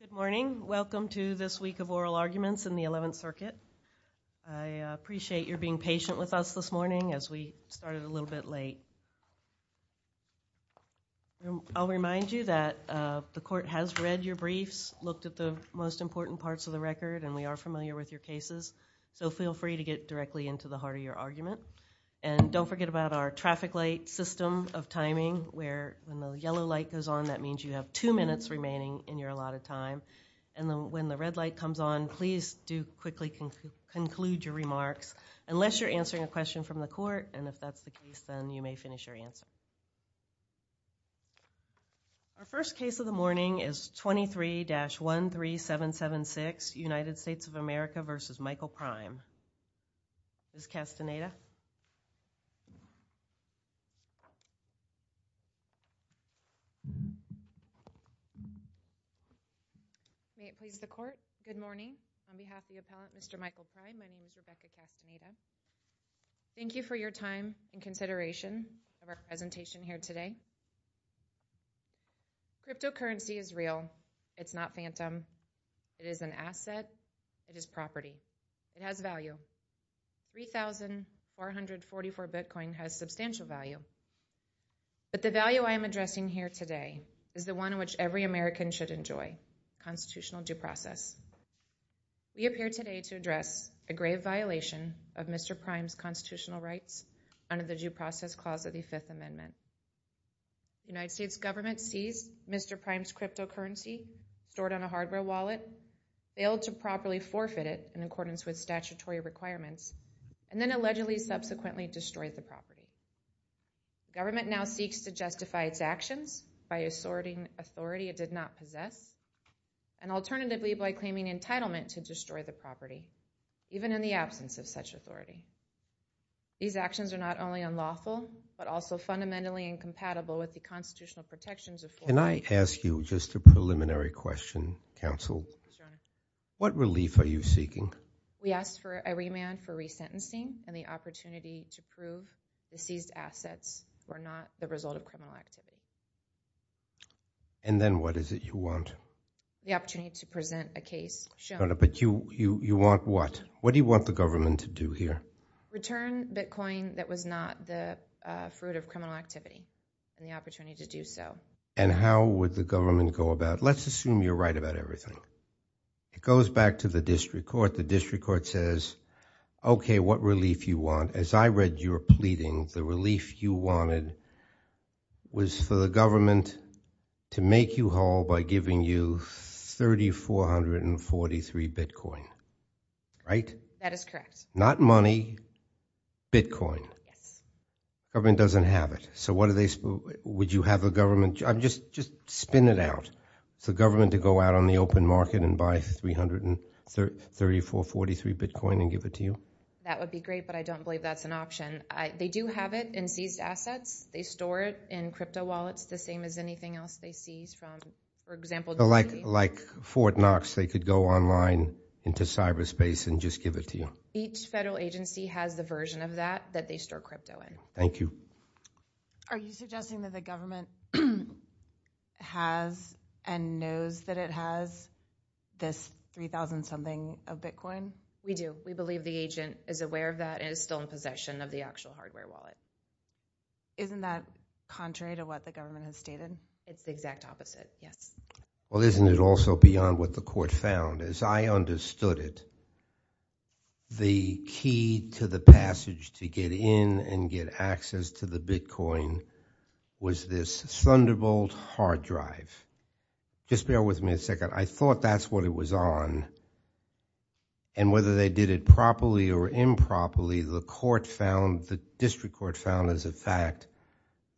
Good morning. Welcome to this week of oral arguments in the Eleventh Circuit. I appreciate your being patient with us this morning as we started a little bit late. I'll remind you that the court has read your briefs, looked at the most important parts of the record, and we are familiar with your cases, so feel free to get directly into the heart of your argument. And don't forget about our traffic light system of timing, where when the yellow light goes on, that means you have two minutes remaining in your allotted time. And when the red light comes on, please do quickly conclude your remarks, unless you're answering a question from the court, and if that's the case, then you may finish your answer. Our first case of the morning is 23-13776, United States of America v. Michael Prime. Ms. Castaneda. May it please the court, good morning. On behalf of the appellant, Mr. Michael Prime, my name is Rebecca Castaneda. Thank you for your time and consideration of our presentation here today. Cryptocurrency is real. It's not phantom. It is an asset. It is property. It has value. 3,444 bitcoin has substantial value. But the value I am addressing here today is the one in which every American should enjoy, constitutional due process. We appear today to address a grave violation of Mr. Prime's constitutional rights under the Due Process Clause of the Fifth Amendment. The United States government seized Mr. Prime's property in accordance with statutory requirements, and then allegedly subsequently destroyed the property. The government now seeks to justify its actions by asserting authority it did not possess, and alternatively by claiming entitlement to destroy the property, even in the absence of such authority. These actions are not only unlawful, but also fundamentally incompatible with the constitutional protections of foreign... Can I ask you just a preliminary question, counsel? What relief are you seeking? We ask for a remand for resentencing and the opportunity to prove the seized assets were not the result of criminal activity. And then what is it you want? The opportunity to present a case shown... But you want what? What do you want the government to do here? Return bitcoin that was not the fruit of criminal activity, and the opportunity to do so. And how would the government go about it? Let's assume you're right about everything. It goes back to the district court. The district court says, okay, what relief you want? As I read your pleading, the relief you wanted was for the government to make you whole by giving you 3,443 bitcoin, right? That is correct. Not money, bitcoin. Would you have the government... Just spin it out. For the government to go out on the open market and buy 3,443 bitcoin and give it to you? That would be great, but I don't believe that's an option. They do have it in seized assets. They store it in crypto wallets the same as anything else they seize from, for example... Like Fort Knox, they could go online into cyberspace and just give it to you? Each federal agency has the version of that that they store crypto in. Thank you. Are you suggesting that the government has and knows that it has this 3,000-something of bitcoin? We do. We believe the agent is aware of that and is still in possession of the actual hardware wallet. Isn't that contrary to what the government has stated? It's the exact opposite, yes. Well, isn't it also beyond what the court found? As I understood it, the key to the passage to get in and get access to the bitcoin was this Thunderbolt hard drive. Just bear with me a second. I thought that's what it was on, and whether they did it properly or improperly, the district court found as a fact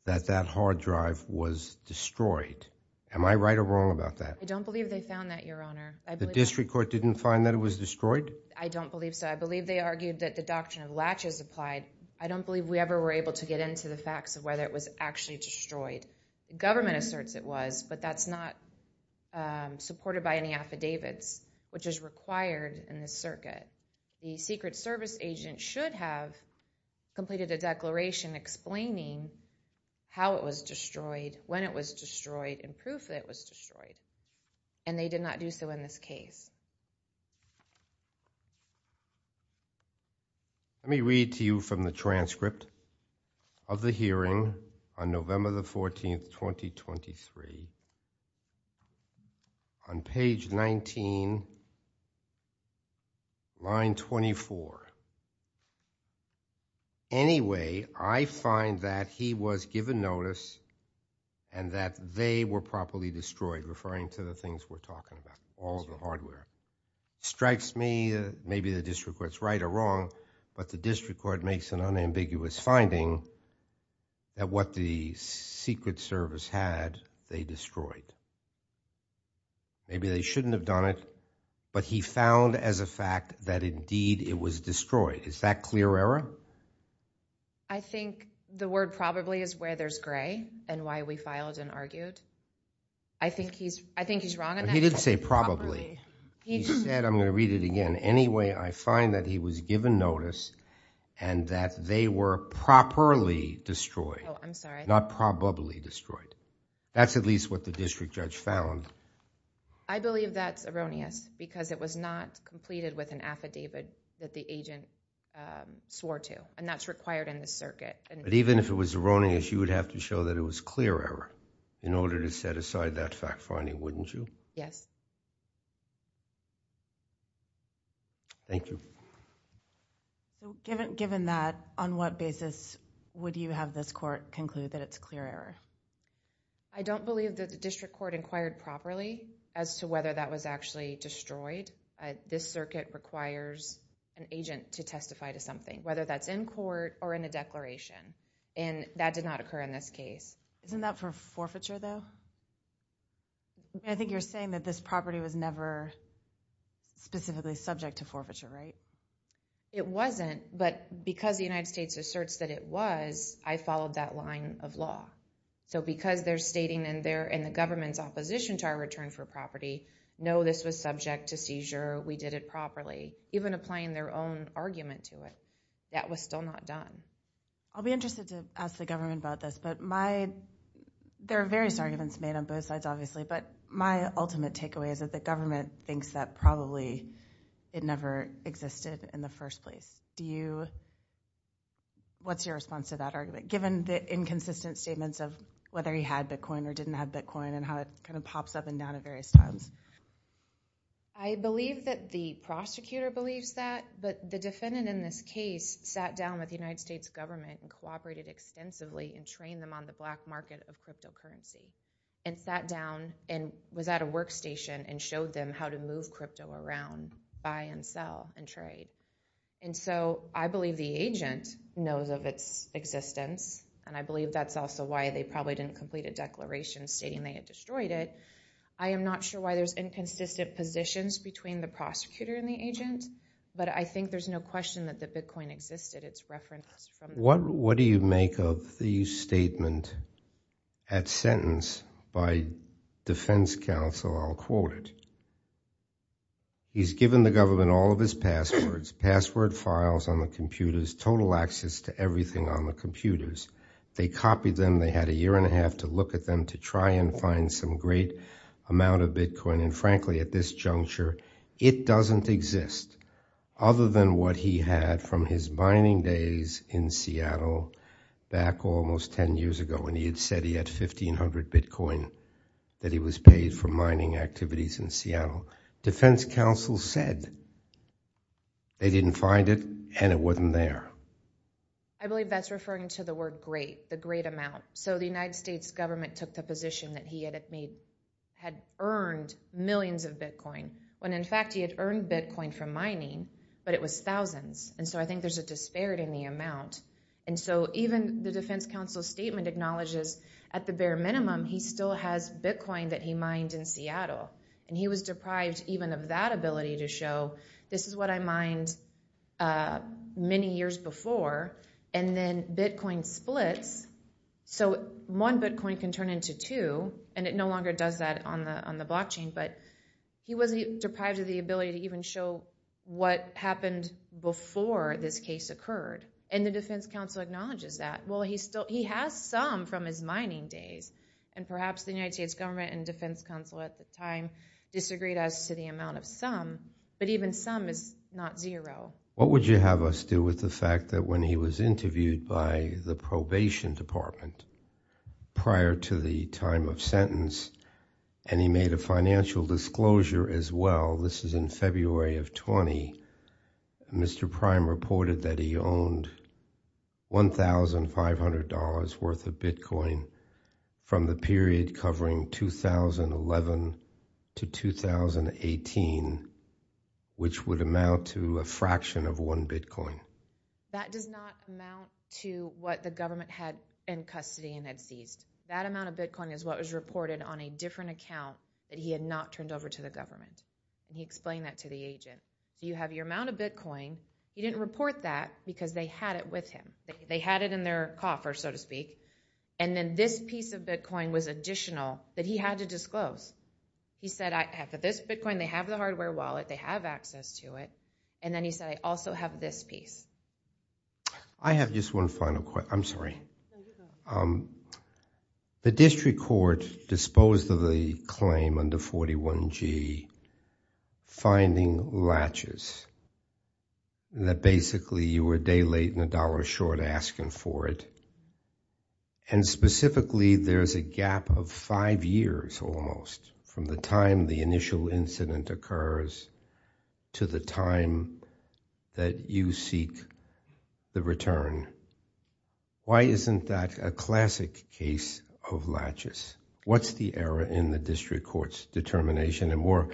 that that hard drive was destroyed. Am I right or wrong about that? I don't believe they found that, Your Honor. The district court didn't find that it was destroyed? I don't believe so. I believe they argued that the doctrine of latches applied. I don't believe we ever were able to get into the facts of whether it was actually destroyed. The government asserts it was, but that's not supported by any affidavits, which is required in this circuit. The Secret Service agent should have completed a declaration explaining how it was destroyed, when it was destroyed, and proof that it was destroyed, and they did not do so in this case. Let me read to you from the transcript of the hearing on November 14, 2023. On page 19, line 24. Anyway, I find that he was given notice and that they were properly destroyed, referring to the things we're talking about, all of the hardware. It strikes me, maybe the district court's right or wrong, but the district court makes an unambiguous finding that what the Secret Service had, they destroyed. Maybe they shouldn't have done it, but he found as a fact that indeed it was destroyed. Is that clear error? I think the word probably is where there's gray and why we filed and argued. I think he's wrong on that. He didn't say probably. He said, I'm going to read it again. Anyway, I find that he was given notice and that they were properly destroyed. Oh, I'm sorry. Not probably destroyed. That's at least what the district judge found. I believe that's erroneous because it was not completed with an affidavit that the agent swore to, and that's required in this circuit. Even if it was erroneous, you would have to show that it was clear error in order to set aside that fact finding, wouldn't you? Yes. Thank you. Given that, on what basis would you have this court conclude that it's clear error? I don't believe that the district court inquired properly as to whether that was actually destroyed. This circuit requires an agent to testify to something, whether that's in court or in a declaration, and that did not occur in this case. Isn't that for forfeiture though? I think you're saying that this property was never specifically subject to forfeiture, right? It wasn't, but because the United States asserts that it was, I followed that line of law. So because they're stating in the government's opposition to our return for property, no, this was subject to seizure, we did it properly, even applying their own argument to it, that was still not done. I'll be interested to ask the government about this, but there are various arguments made on both sides, obviously, but my ultimate takeaway is that the government thinks that probably it never existed in the first place. What's your response to that argument, given the inconsistent statements of whether he had Bitcoin or didn't have Bitcoin and how it kind of pops up and down at various times? I believe that the prosecutor believes that, but the defendant in this case sat down with the United States government and cooperated extensively and trained them on the black market of cryptocurrency and sat down and was at a workstation and showed them how to move crypto around, buy and sell and trade. And so I believe the agent knows of its existence, and I believe that's also why they probably didn't complete a declaration stating they had destroyed it. I am not sure why there's inconsistent positions between the prosecutor and the agent, but I think there's no question that the Bitcoin existed. What do you make of the statement at sentence by defense counsel? I'll quote it. He's given the government all of his passwords, password files on the computers, total access to everything on the computers. They copied them. They had a year and a half to look at them to try and find some great amount of Bitcoin, and frankly, at this juncture, it doesn't exist, other than what he had from his mining days in Seattle back almost 10 years ago when he had said he had 1,500 Bitcoin that he was paid for mining activities in Seattle. Defense counsel said they didn't find it, and it wasn't there. I believe that's referring to the word great, the great amount. So the United States government took the position that he had earned millions of Bitcoin when, in fact, he had earned Bitcoin from mining, but it was thousands, and so I think there's a disparity in the amount. And so even the defense counsel's statement acknowledges at the bare minimum, he still has Bitcoin that he mined in Seattle, and he was deprived even of that ability to show this is what I mined many years before, and then Bitcoin splits. So one Bitcoin can turn into two, and it no longer does that on the blockchain, but he was deprived of the ability to even show what happened before this case occurred, and the defense counsel acknowledges that. Well, he has some from his mining days, and perhaps the United States government and defense counsel at the time disagreed as to the amount of some, but even some is not zero. What would you have us do with the fact that when he was interviewed by the probation department prior to the time of sentence, and he made a financial disclosure as well, this is in February of 20, Mr. Prime reported that he owned $1,500 worth of Bitcoin from the period covering 2011 to 2018, which would amount to a fraction of one Bitcoin? That does not amount to what the government had in custody and had seized. That amount of Bitcoin is what was reported on a different account that he had not turned over to the government, and he explained that to the agent. You have your amount of Bitcoin. He didn't report that because they had it with him. They had it in their coffer, so to speak, and then this piece of Bitcoin was additional that he had to disclose. He said, I have this Bitcoin. They have the hardware wallet. They have access to it, and then he said, I also have this piece. I have just one final question. I'm sorry. The district court disposed of the claim under 41G, finding latches, that basically you were a day late and a dollar short asking for it, and specifically there's a gap of five years almost from the time the initial incident occurs to the time that you seek the return. Why isn't that a classic case of latches? What's the error in the district court's determination, and more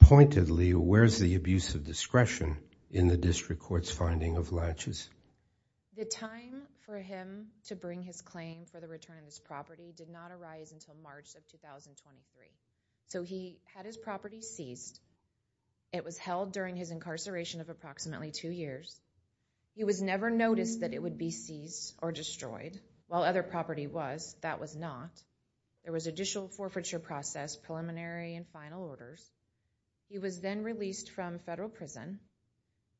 pointedly, where's the abuse of discretion in the district court's finding of latches? The time for him to bring his claim for the return of his property did not arise until March of 2023, so he had his property seized. It was held during his incarceration of approximately two years. He was never noticed that it would be seized or destroyed. While other property was, that was not. There was additional forfeiture process, preliminary and final orders. He was then released from federal prison.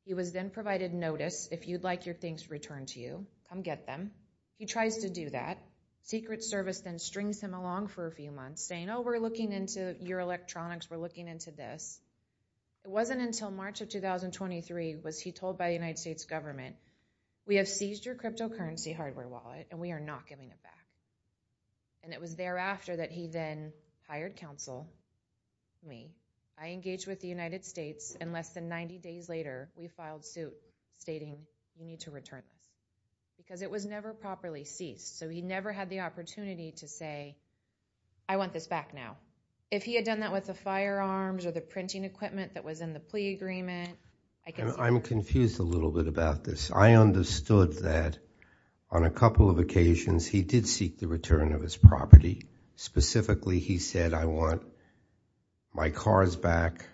He was then provided notice, if you'd like your things returned to you, come get them. He tries to do that. Secret Service then strings him along for a few months saying, oh, we're looking into your electronics, we're looking into this. It wasn't until March of 2023 was he told by the United States government, we have seized your cryptocurrency hardware wallet, and we are not giving it back. And it was thereafter that he then hired counsel, me. I engaged with the United States, and less than 90 days later, we filed suit stating we need to return it because it was never properly seized, so he never had the opportunity to say, I want this back now. If he had done that with the firearms or the printing equipment that was in the plea agreement. I'm confused a little bit about this. I understood that on a couple of occasions he did seek the return of his property. Specifically, he said, I want my cars back.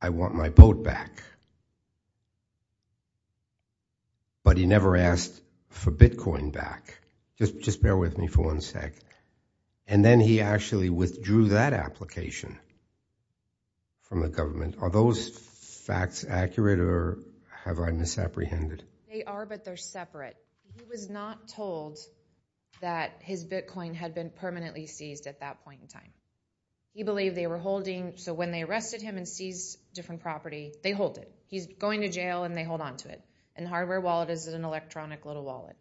I want my boat back. But he never asked for Bitcoin back. Just bear with me for one sec. And then he actually withdrew that application from the government. Are those facts accurate, or have I misapprehended? They are, but they're separate. He was not told that his Bitcoin had been permanently seized at that point in time. He believed they were holding, so when they arrested him and seized different property, they hold it. He's going to jail and they hold on to it. And the hardware wallet is an electronic little wallet.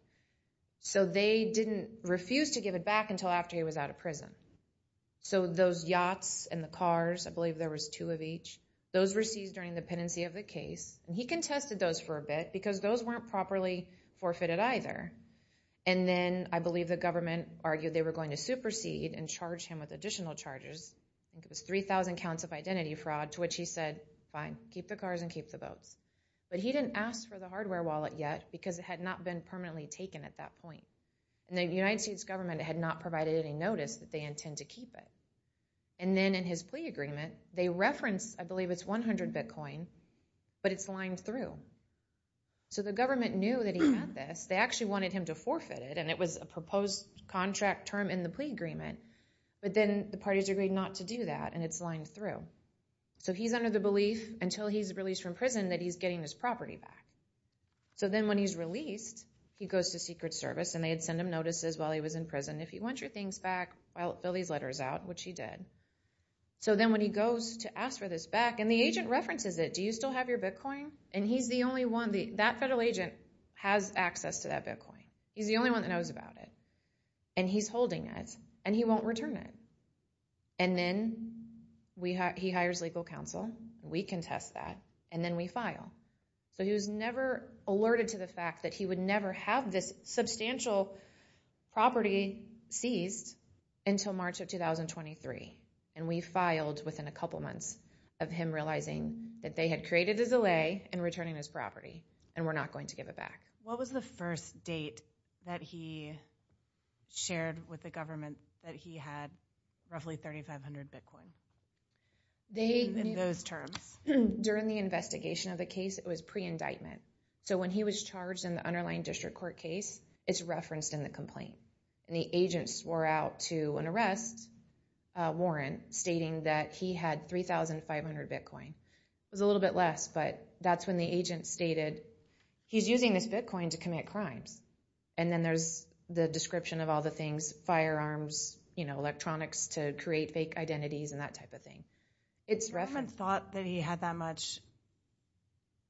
So they didn't refuse to give it back until after he was out of prison. So those yachts and the cars, I believe there was two of each, those were seized during the pendency of the case. And he contested those for a bit because those weren't properly forfeited either. And then I believe the government argued they were going to supersede and charge him with additional charges. I think it was 3,000 counts of identity fraud, to which he said, fine, keep the cars and keep the boats. But he didn't ask for the hardware wallet yet because it had not been permanently taken at that point. And the United States government had not provided any notice that they intend to keep it. And then in his plea agreement, they referenced, I believe it's 100 Bitcoin, but it's lined through. So the government knew that he had this. They actually wanted him to forfeit it, and it was a proposed contract term in the plea agreement. But then the parties agreed not to do that, and it's lined through. So he's under the belief, until he's released from prison, that he's getting his property back. So then when he's released, he goes to Secret Service, and they send him notices while he was in prison. If you want your things back, fill these letters out, which he did. So then when he goes to ask for this back, and the agent references it, do you still have your Bitcoin? And he's the only one, that federal agent has access to that Bitcoin. He's the only one that knows about it. And he's holding it, and he won't return it. And then he hires legal counsel. We contest that, and then we file. So he was never alerted to the fact that he would never have this substantial property seized until March of 2023. And we filed within a couple months of him realizing that they had created a delay in returning this property, and we're not going to give it back. What was the first date that he shared with the government that he had roughly 3,500 Bitcoin? In those terms. During the investigation of the case, it was pre-indictment. So when he was charged in the underlying district court case, it's referenced in the complaint. And the agent swore out to an arrest warrant, stating that he had 3,500 Bitcoin. It was a little bit less, but that's when the agent stated, he's using this Bitcoin to commit crimes. And then there's the description of all the things, firearms, electronics to create fake identities, and that type of thing. If the government thought that he had that much,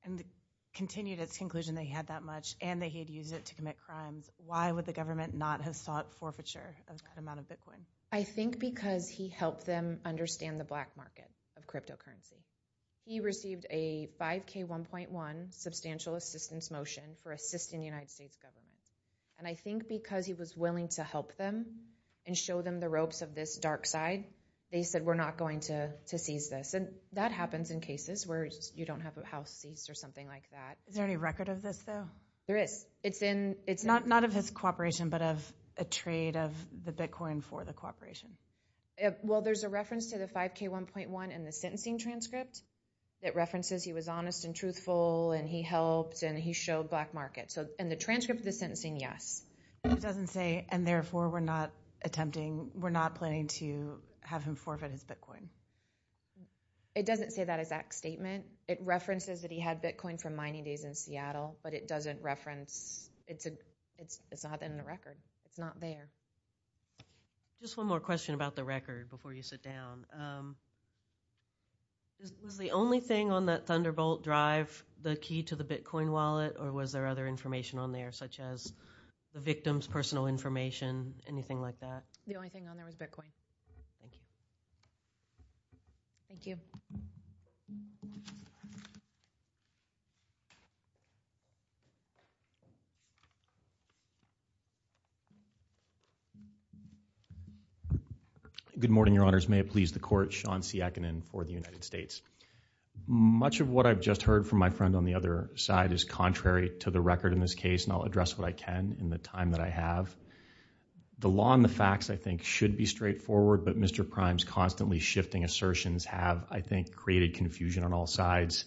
and continued its conclusion that he had that much, and that he had used it to commit crimes, why would the government not have sought forfeiture of that amount of Bitcoin? I think because he helped them understand the black market of cryptocurrency. He received a 5K1.1 substantial assistance motion for assisting the United States government. And I think because he was willing to help them and show them the ropes of this dark side, they said, we're not going to seize this. And that happens in cases where you don't have a house seized or something like that. Is there any record of this, though? There is. Not of his cooperation, but of a trade of the Bitcoin for the cooperation. Well, there's a reference to the 5K1.1 in the sentencing transcript. It references he was honest and truthful, and he helped, and he showed black market. So in the transcript of the sentencing, yes. It doesn't say, and therefore we're not attempting, we're not planning to have him forfeit his Bitcoin. It doesn't say that exact statement. It references that he had Bitcoin from mining days in Seattle, but it doesn't reference, it's not in the record. It's not there. Just one more question about the record before you sit down. Was the only thing on that Thunderbolt drive the key to the Bitcoin wallet, or was there other information on there, such as the victim's personal information, anything like that? The only thing on there was Bitcoin. Thank you. Good morning, Your Honors. May it please the Court. Sean C. Aikinen for the United States. Much of what I've just heard from my friend on the other side is contrary to the record in this case, and I'll address what I can in the time that I have. The law and the facts, I think, should be straightforward, but Mr. Prime's constantly shifting assertions have, I think, created confusion on all sides.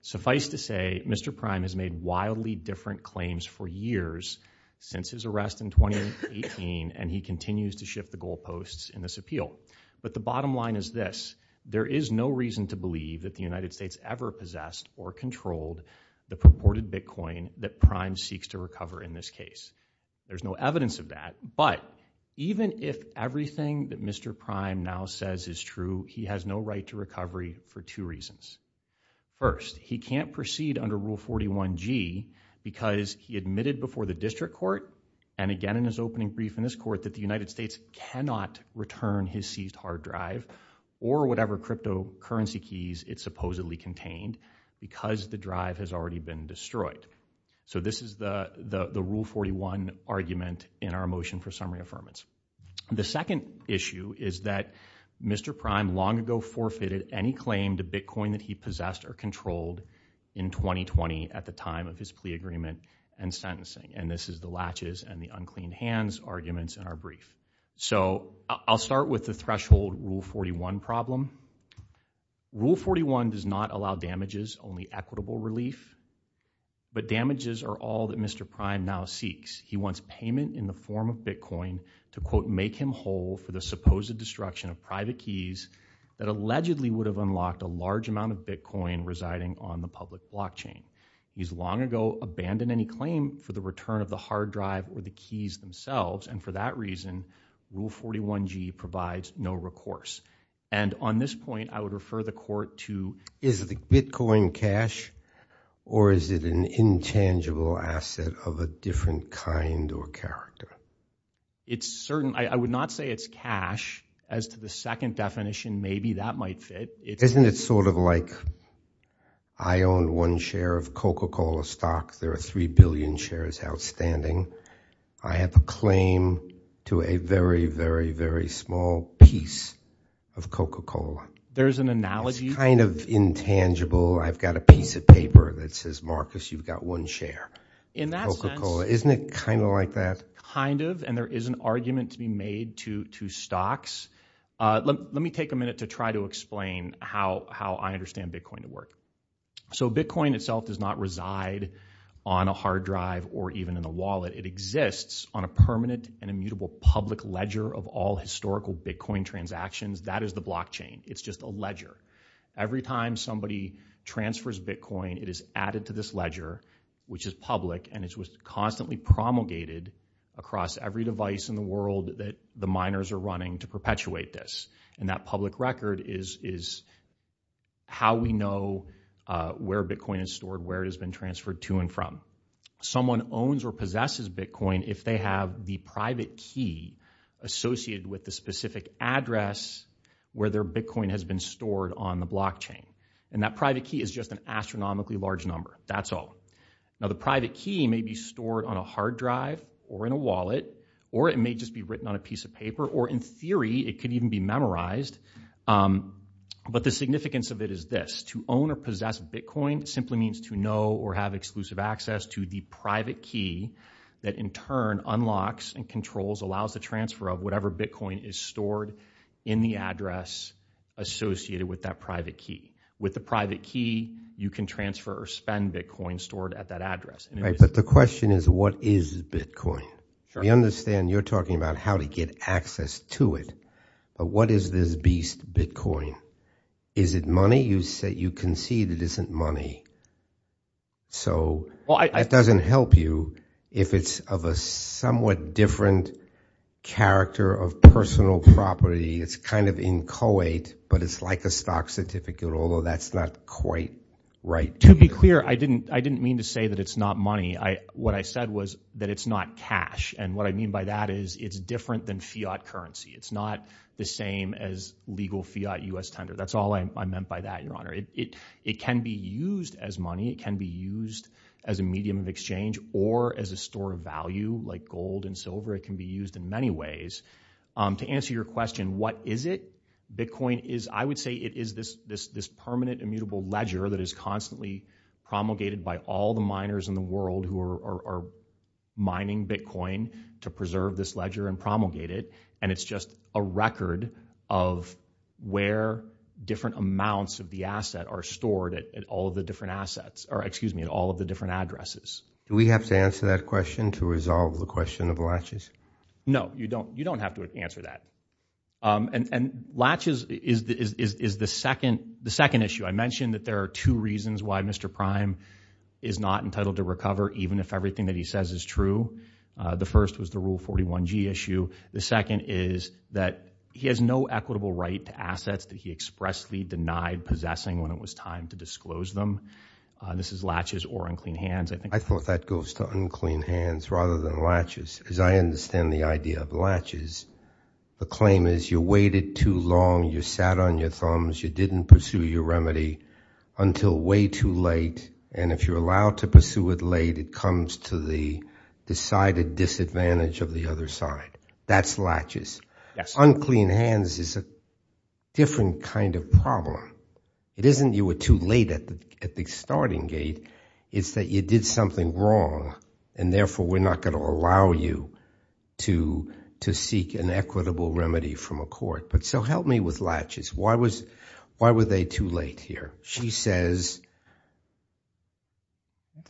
Suffice to say, Mr. Prime has made wildly different claims for years since his arrest in 2018, and he continues to shift the goalposts in this appeal. But the bottom line is this. There is no reason to believe that the United States ever possessed or controlled the purported Bitcoin that Prime seeks to recover in this case. There's no evidence of that, but even if everything that Mr. Prime now says is true, he has no right to recovery for two reasons. First, he can't proceed under Rule 41G because he admitted before the district court, and again in his opening brief in this court, that the United States cannot return his seized hard drive or whatever cryptocurrency keys it supposedly contained because the drive has already been destroyed. So this is the Rule 41 argument in our motion for summary affirmance. The second issue is that Mr. Prime long ago forfeited any claim to Bitcoin that he possessed or controlled in 2020 at the time of his plea agreement and sentencing, and this is the latches and the unclean hands arguments in our brief. So I'll start with the threshold Rule 41 problem. Rule 41 does not allow damages, only equitable relief. But damages are all that Mr. Prime now seeks. He wants payment in the form of Bitcoin to, quote, make him whole for the supposed destruction of private keys that allegedly would have unlocked a large amount of Bitcoin residing on the public blockchain. He's long ago abandoned any claim for the return of the hard drive or the keys themselves, and for that reason, Rule 41G provides no recourse. And on this point, I would refer the court to— Is the Bitcoin cash or is it an intangible asset of a different kind or character? It's certain—I would not say it's cash. As to the second definition, maybe that might fit. Isn't it sort of like I own one share of Coca-Cola stock. There are three billion shares outstanding. I have a claim to a very, very, very small piece of Coca-Cola. There's an analogy. It's kind of intangible. I've got a piece of paper that says, Marcus, you've got one share of Coca-Cola. Isn't it kind of like that? Kind of, and there is an argument to be made to stocks. Let me take a minute to try to explain how I understand Bitcoin to work. So Bitcoin itself does not reside on a hard drive or even in a wallet. It exists on a permanent and immutable public ledger of all historical Bitcoin transactions. That is the blockchain. It's just a ledger. Every time somebody transfers Bitcoin, it is added to this ledger, which is public, and it's constantly promulgated across every device in the world that the miners are running to perpetuate this. And that public record is how we know where Bitcoin is stored, where it has been transferred to and from. Someone owns or possesses Bitcoin if they have the private key associated with the specific address where their Bitcoin has been stored on the blockchain. And that private key is just an astronomically large number. That's all. Now, the private key may be stored on a hard drive or in a wallet, or it may just be written on a piece of paper, or in theory, it could even be memorized. But the significance of it is this. To own or possess Bitcoin simply means to know or have exclusive access to the private key that, in turn, unlocks and controls, allows the transfer of whatever Bitcoin is stored in the address associated with that private key. With the private key, you can transfer or spend Bitcoin stored at that address. But the question is, what is Bitcoin? We understand you're talking about how to get access to it, but what is this beast, Bitcoin? Is it money? You said you concede it isn't money. So it doesn't help you if it's of a somewhat different character of personal property. It's kind of inchoate, but it's like a stock certificate, although that's not quite right. To be clear, I didn't mean to say that it's not money. What I said was that it's not cash, and what I mean by that is it's different than fiat currency. It's not the same as legal fiat U.S. tender. That's all I meant by that, Your Honor. It can be used as money. It can be used as a medium of exchange or as a store of value like gold and silver. It can be used in many ways. To answer your question, what is it? I would say it is this permanent immutable ledger that is constantly promulgated by all the miners in the world who are mining Bitcoin to preserve this ledger and promulgate it, and it's just a record of where different amounts of the asset are stored at all of the different addresses. Do we have to answer that question to resolve the question of latches? No, you don't have to answer that. And latches is the second issue. I mentioned that there are two reasons why Mr. Prime is not entitled to recover, even if everything that he says is true. The first was the Rule 41G issue. The second is that he has no equitable right to assets that he expressly denied possessing when it was time to disclose them. This is latches or unclean hands. I thought that goes to unclean hands rather than latches, because I understand the idea of latches. The claim is you waited too long, you sat on your thumbs, you didn't pursue your remedy until way too late, and if you're allowed to pursue it late, it comes to the decided disadvantage of the other side. That's latches. Unclean hands is a different kind of problem. It isn't you were too late at the starting gate. It's that you did something wrong, and therefore we're not going to allow you to seek an equitable remedy from a court. So help me with latches. Why were they too late here? She says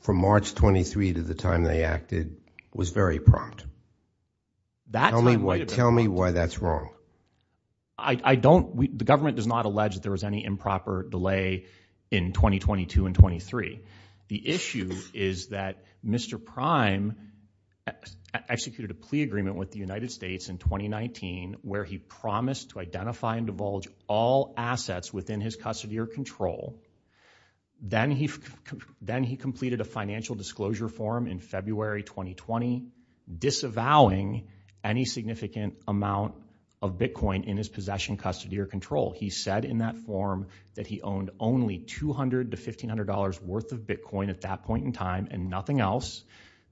from March 23 to the time they acted was very prompt. Tell me why that's wrong. The government does not allege that there was any improper delay in 2022 and 23. The issue is that Mr. Prime executed a plea agreement with the United States in 2019 where he promised to identify and divulge all assets within his custody or control. Then he completed a financial disclosure form in February 2020, disavowing any significant amount of Bitcoin in his possession, custody, or control. He said in that form that he owned only $200 to $1,500 worth of Bitcoin at that point in time and nothing else.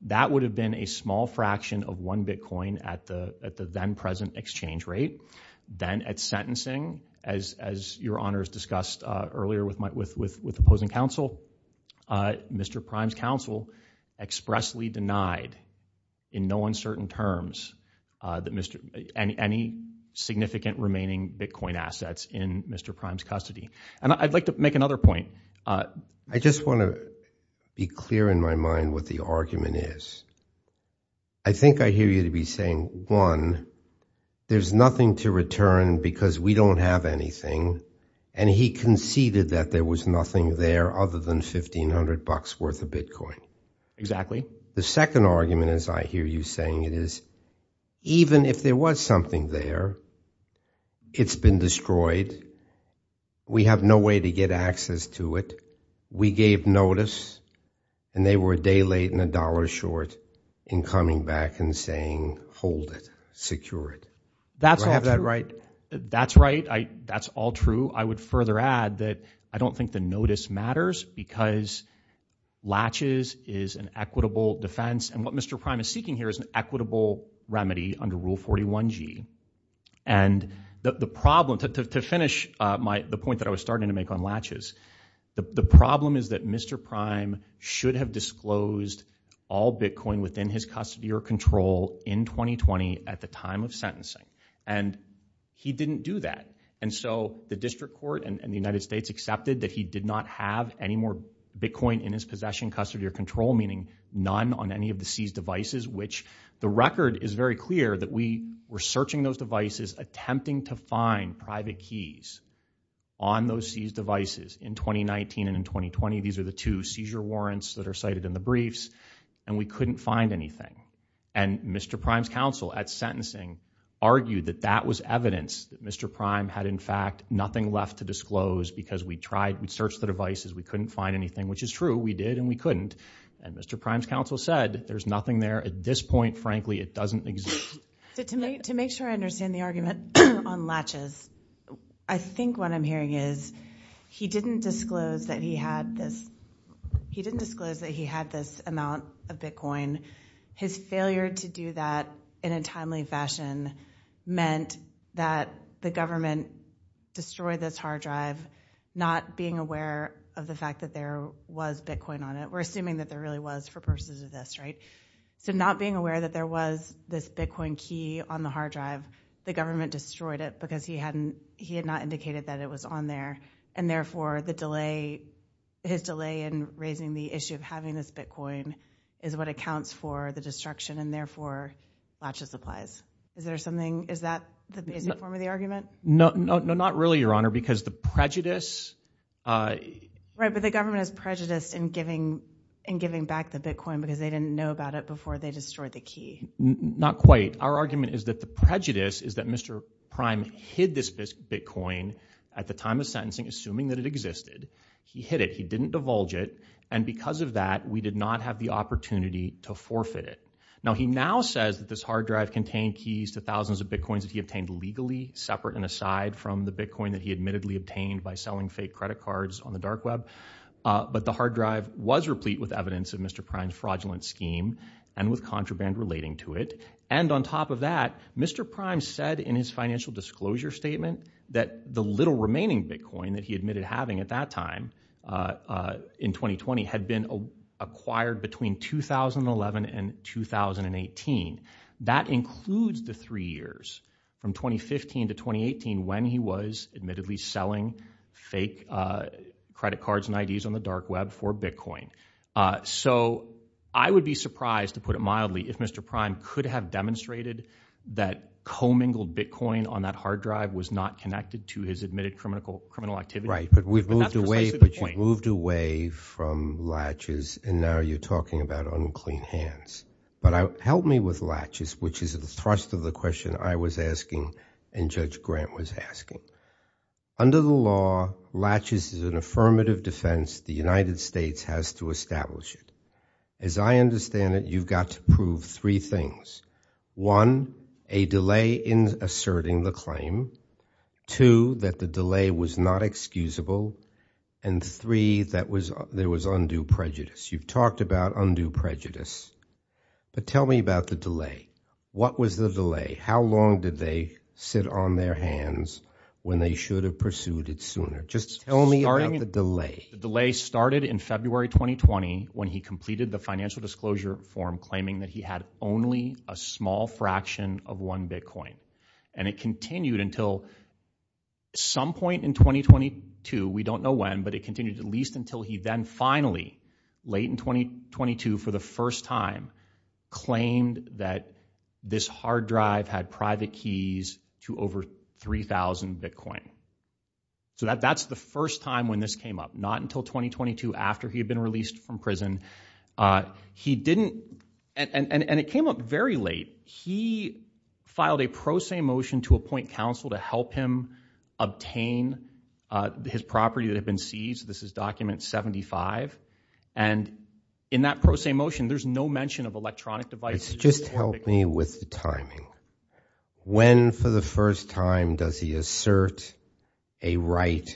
That would have been a small fraction of one Bitcoin at the then-present exchange rate. Then at sentencing, as Your Honor has discussed earlier with opposing counsel, Mr. Prime's counsel expressly denied in no uncertain terms any significant remaining Bitcoin assets in Mr. Prime's custody. I'd like to make another point. I just want to be clear in my mind what the argument is. I think I hear you to be saying, one, there's nothing to return because we don't have anything, and he conceded that there was nothing there other than $1,500 worth of Bitcoin. The second argument, as I hear you saying it, is even if there was something there, it's been destroyed. We have no way to get access to it. We gave notice, and they were a day late and a dollar short in coming back and saying, hold it, secure it. Do I have that right? That's all true. I would further add that I don't think the notice matters because latches is an equitable defense, and what Mr. Prime is seeking here is an equitable remedy under Rule 41G. And the problem, to finish the point that I was starting to make on latches, the problem is that Mr. Prime should have disclosed all Bitcoin within his custody or control in 2020 at the time of sentencing, and he didn't do that. And so the district court in the United States accepted that he did not have any more Bitcoin in his possession, custody, or control, meaning none on any of the seized devices, which the record is very clear that we were searching those devices, attempting to find private keys on those seized devices in 2019 and in 2020. These are the two seizure warrants that are cited in the briefs, and we couldn't find anything. And Mr. Prime's counsel at sentencing argued that that was evidence that Mr. Prime had, in fact, nothing left to disclose because we tried, we searched the devices, we couldn't find anything, which is true, we did and we couldn't. And Mr. Prime's counsel said there's nothing there. At this point, frankly, it doesn't exist. So to make sure I understand the argument on latches, I think what I'm hearing is he didn't disclose that he had this amount of Bitcoin. His failure to do that in a timely fashion meant that the government destroyed this hard drive, not being aware of the fact that there was Bitcoin on it. We're assuming that there really was for purposes of this, right? So not being aware that there was this Bitcoin key on the hard drive, the government destroyed it because he had not indicated that it was on there, and therefore the delay, his delay in raising the issue of having this Bitcoin is what accounts for the destruction, and therefore latches applies. Is there something, is that the basic form of the argument? No, not really, Your Honor, because the prejudice. Right, but the government is prejudiced in giving back the Bitcoin because they didn't know about it before they destroyed the key. Not quite. Our argument is that the prejudice is that Mr. Prime hid this Bitcoin at the time of sentencing, assuming that it existed. He hid it. He didn't divulge it, and because of that, we did not have the opportunity to forfeit it. Now, he now says that this hard drive contained keys to thousands of Bitcoins that he obtained legally, separate and aside from the Bitcoin that he admittedly obtained by selling fake credit cards on the dark web, but the hard drive was replete with evidence of Mr. Prime's fraudulent scheme and with contraband relating to it, and on top of that, Mr. Prime said in his financial disclosure statement that the little remaining Bitcoin that he admitted having at that time in 2020 had been acquired between 2011 and 2018. That includes the three years from 2015 to 2018 when he was admittedly selling fake credit cards and IDs on the dark web for Bitcoin. So I would be surprised, to put it mildly, if Mr. Prime could have demonstrated that commingled Bitcoin on that hard drive was not connected to his admitted criminal activity. Right, but we've moved away from latches, and now you're talking about unclean hands. But help me with latches, which is the thrust of the question I was asking and Judge Grant was asking. Under the law, latches is an affirmative defense the United States has to establish. As I understand it, you've got to prove three things. One, a delay in asserting the claim. Two, that the delay was not excusable. And three, that there was undue prejudice. You've talked about undue prejudice, but tell me about the delay. What was the delay? How long did they sit on their hands when they should have pursued it sooner? Just tell me about the delay. The delay started in February 2020 when he completed the financial disclosure form claiming that he had only a small fraction of one Bitcoin. And it continued until some point in 2022, we don't know when, but it continued at least until he then finally, late in 2022 for the first time, claimed that this hard drive had private keys to over 3,000 Bitcoin. So that's the first time when this came up. Not until 2022 after he had been released from prison. He didn't, and it came up very late, he filed a pro se motion to appoint counsel to help him obtain his property that had been seized. This is document 75. And in that pro se motion, there's no mention of electronic devices. Just help me with the timing. When for the first time does he assert a right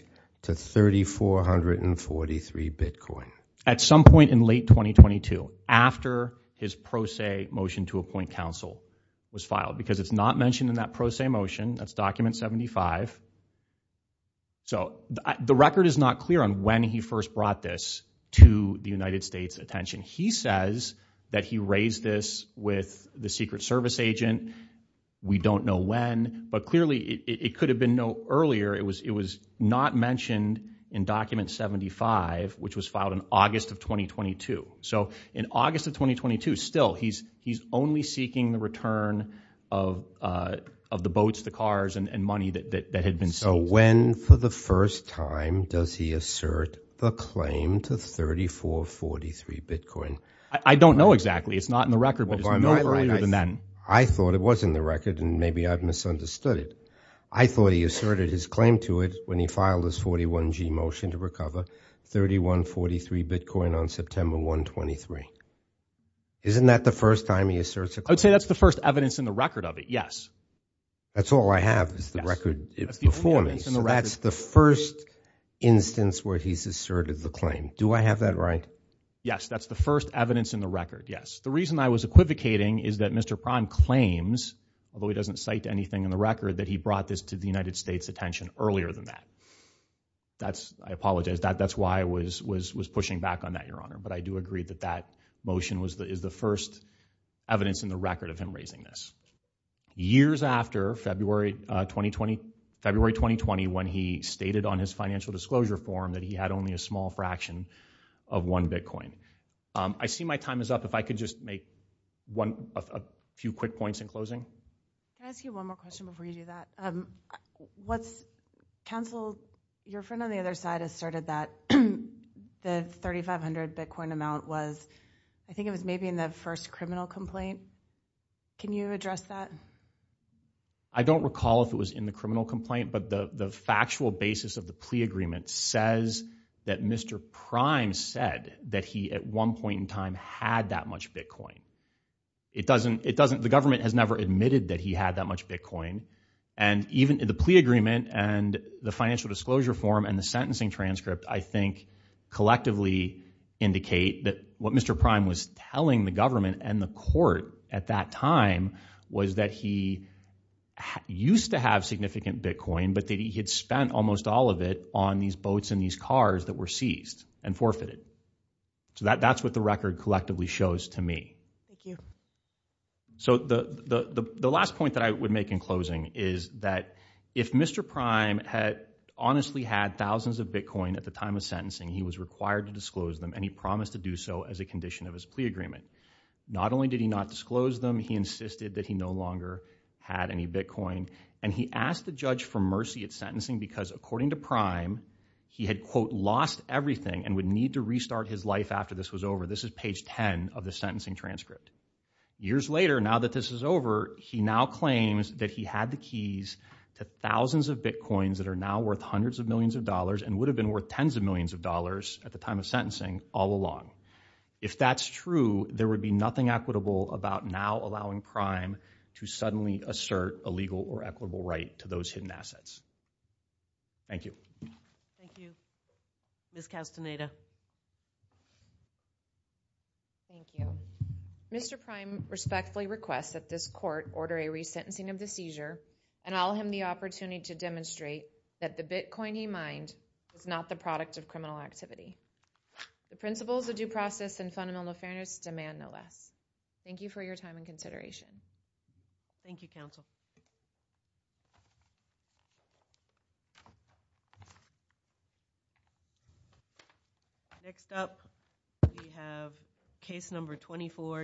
to 3,443 Bitcoin? At some point in late 2022, after his pro se motion to appoint counsel was filed, because it's not mentioned in that pro se motion, that's document 75. So the record is not clear on when he first brought this to the United States attention. He says that he raised this with the Secret Service agent. We don't know when, but clearly it could have been no earlier. It was not mentioned in document 75, which was filed in August of 2022. So in August of 2022, still, he's only seeking the return of the boats, the cars, and money that had been seized. So when for the first time does he assert the claim to 3,443 Bitcoin? I don't know exactly. It's not in the record, but it's no earlier than then. I thought it was in the record, and maybe I've misunderstood it. I thought he asserted his claim to it when he filed his 41G motion to recover 3,143 Bitcoin on September 1, 23. Isn't that the first time he asserts a claim? I would say that's the first evidence in the record of it, yes. That's all I have is the record before me. So that's the first instance where he's asserted the claim. Do I have that right? Yes, that's the first evidence in the record, yes. The reason I was equivocating is that Mr. Prahn claims, although he doesn't cite anything in the record, that he brought this to the United States attention earlier than that. I apologize. That's why I was pushing back on that, Your Honor. But I do agree that that motion is the first evidence in the record of him raising this. Years after February 2020 when he stated on his financial disclosure form that he had only a small fraction of one Bitcoin. I see my time is up. If I could just make a few quick points in closing. Can I ask you one more question before you do that? Once counsel, your friend on the other side, asserted that the 3,500 Bitcoin amount was, I think it was maybe in the first criminal complaint. Can you address that? I don't recall if it was in the criminal complaint, but the factual basis of the plea agreement says that Mr. Prime said that he at one point in time had that much Bitcoin. The government has never admitted that he had that much Bitcoin. And even the plea agreement and the financial disclosure form and the sentencing transcript I think collectively indicate that what Mr. Prime was telling the government and the court at that time was that he used to have significant Bitcoin, but that he had spent almost all of it on these boats and these cars that were seized and forfeited. So that's what the record collectively shows to me. Thank you. So the last point that I would make in closing is that if Mr. Prime had honestly had thousands of Bitcoin at the time of sentencing, he was required to disclose them and he promised to do so as a condition of his plea agreement. Not only did he not disclose them, he insisted that he no longer had any Bitcoin. And he asked the judge for mercy at sentencing because according to Prime, he had, quote, lost everything and would need to restart his life after this was over. This is page 10 of the sentencing transcript. Years later, now that this is over, he now claims that he had the keys to thousands of Bitcoins that are now worth hundreds of millions of dollars and would have been worth tens of millions of dollars at the time of sentencing all along. If that's true, there would be nothing equitable about now allowing Prime to suddenly assert a legal or equitable right to those hidden assets. Thank you. Thank you. Ms. Castaneda. Thank you. Mr. Prime respectfully requests that this court order a resentencing of the seizure and I'll hand the opportunity to demonstrate that the Bitcoin he mined is not the product of criminal activity. The principles of due process and fundamental fairness demand no less. Thank you for your time and consideration. Thank you, counsel. Next up, we have case number 24.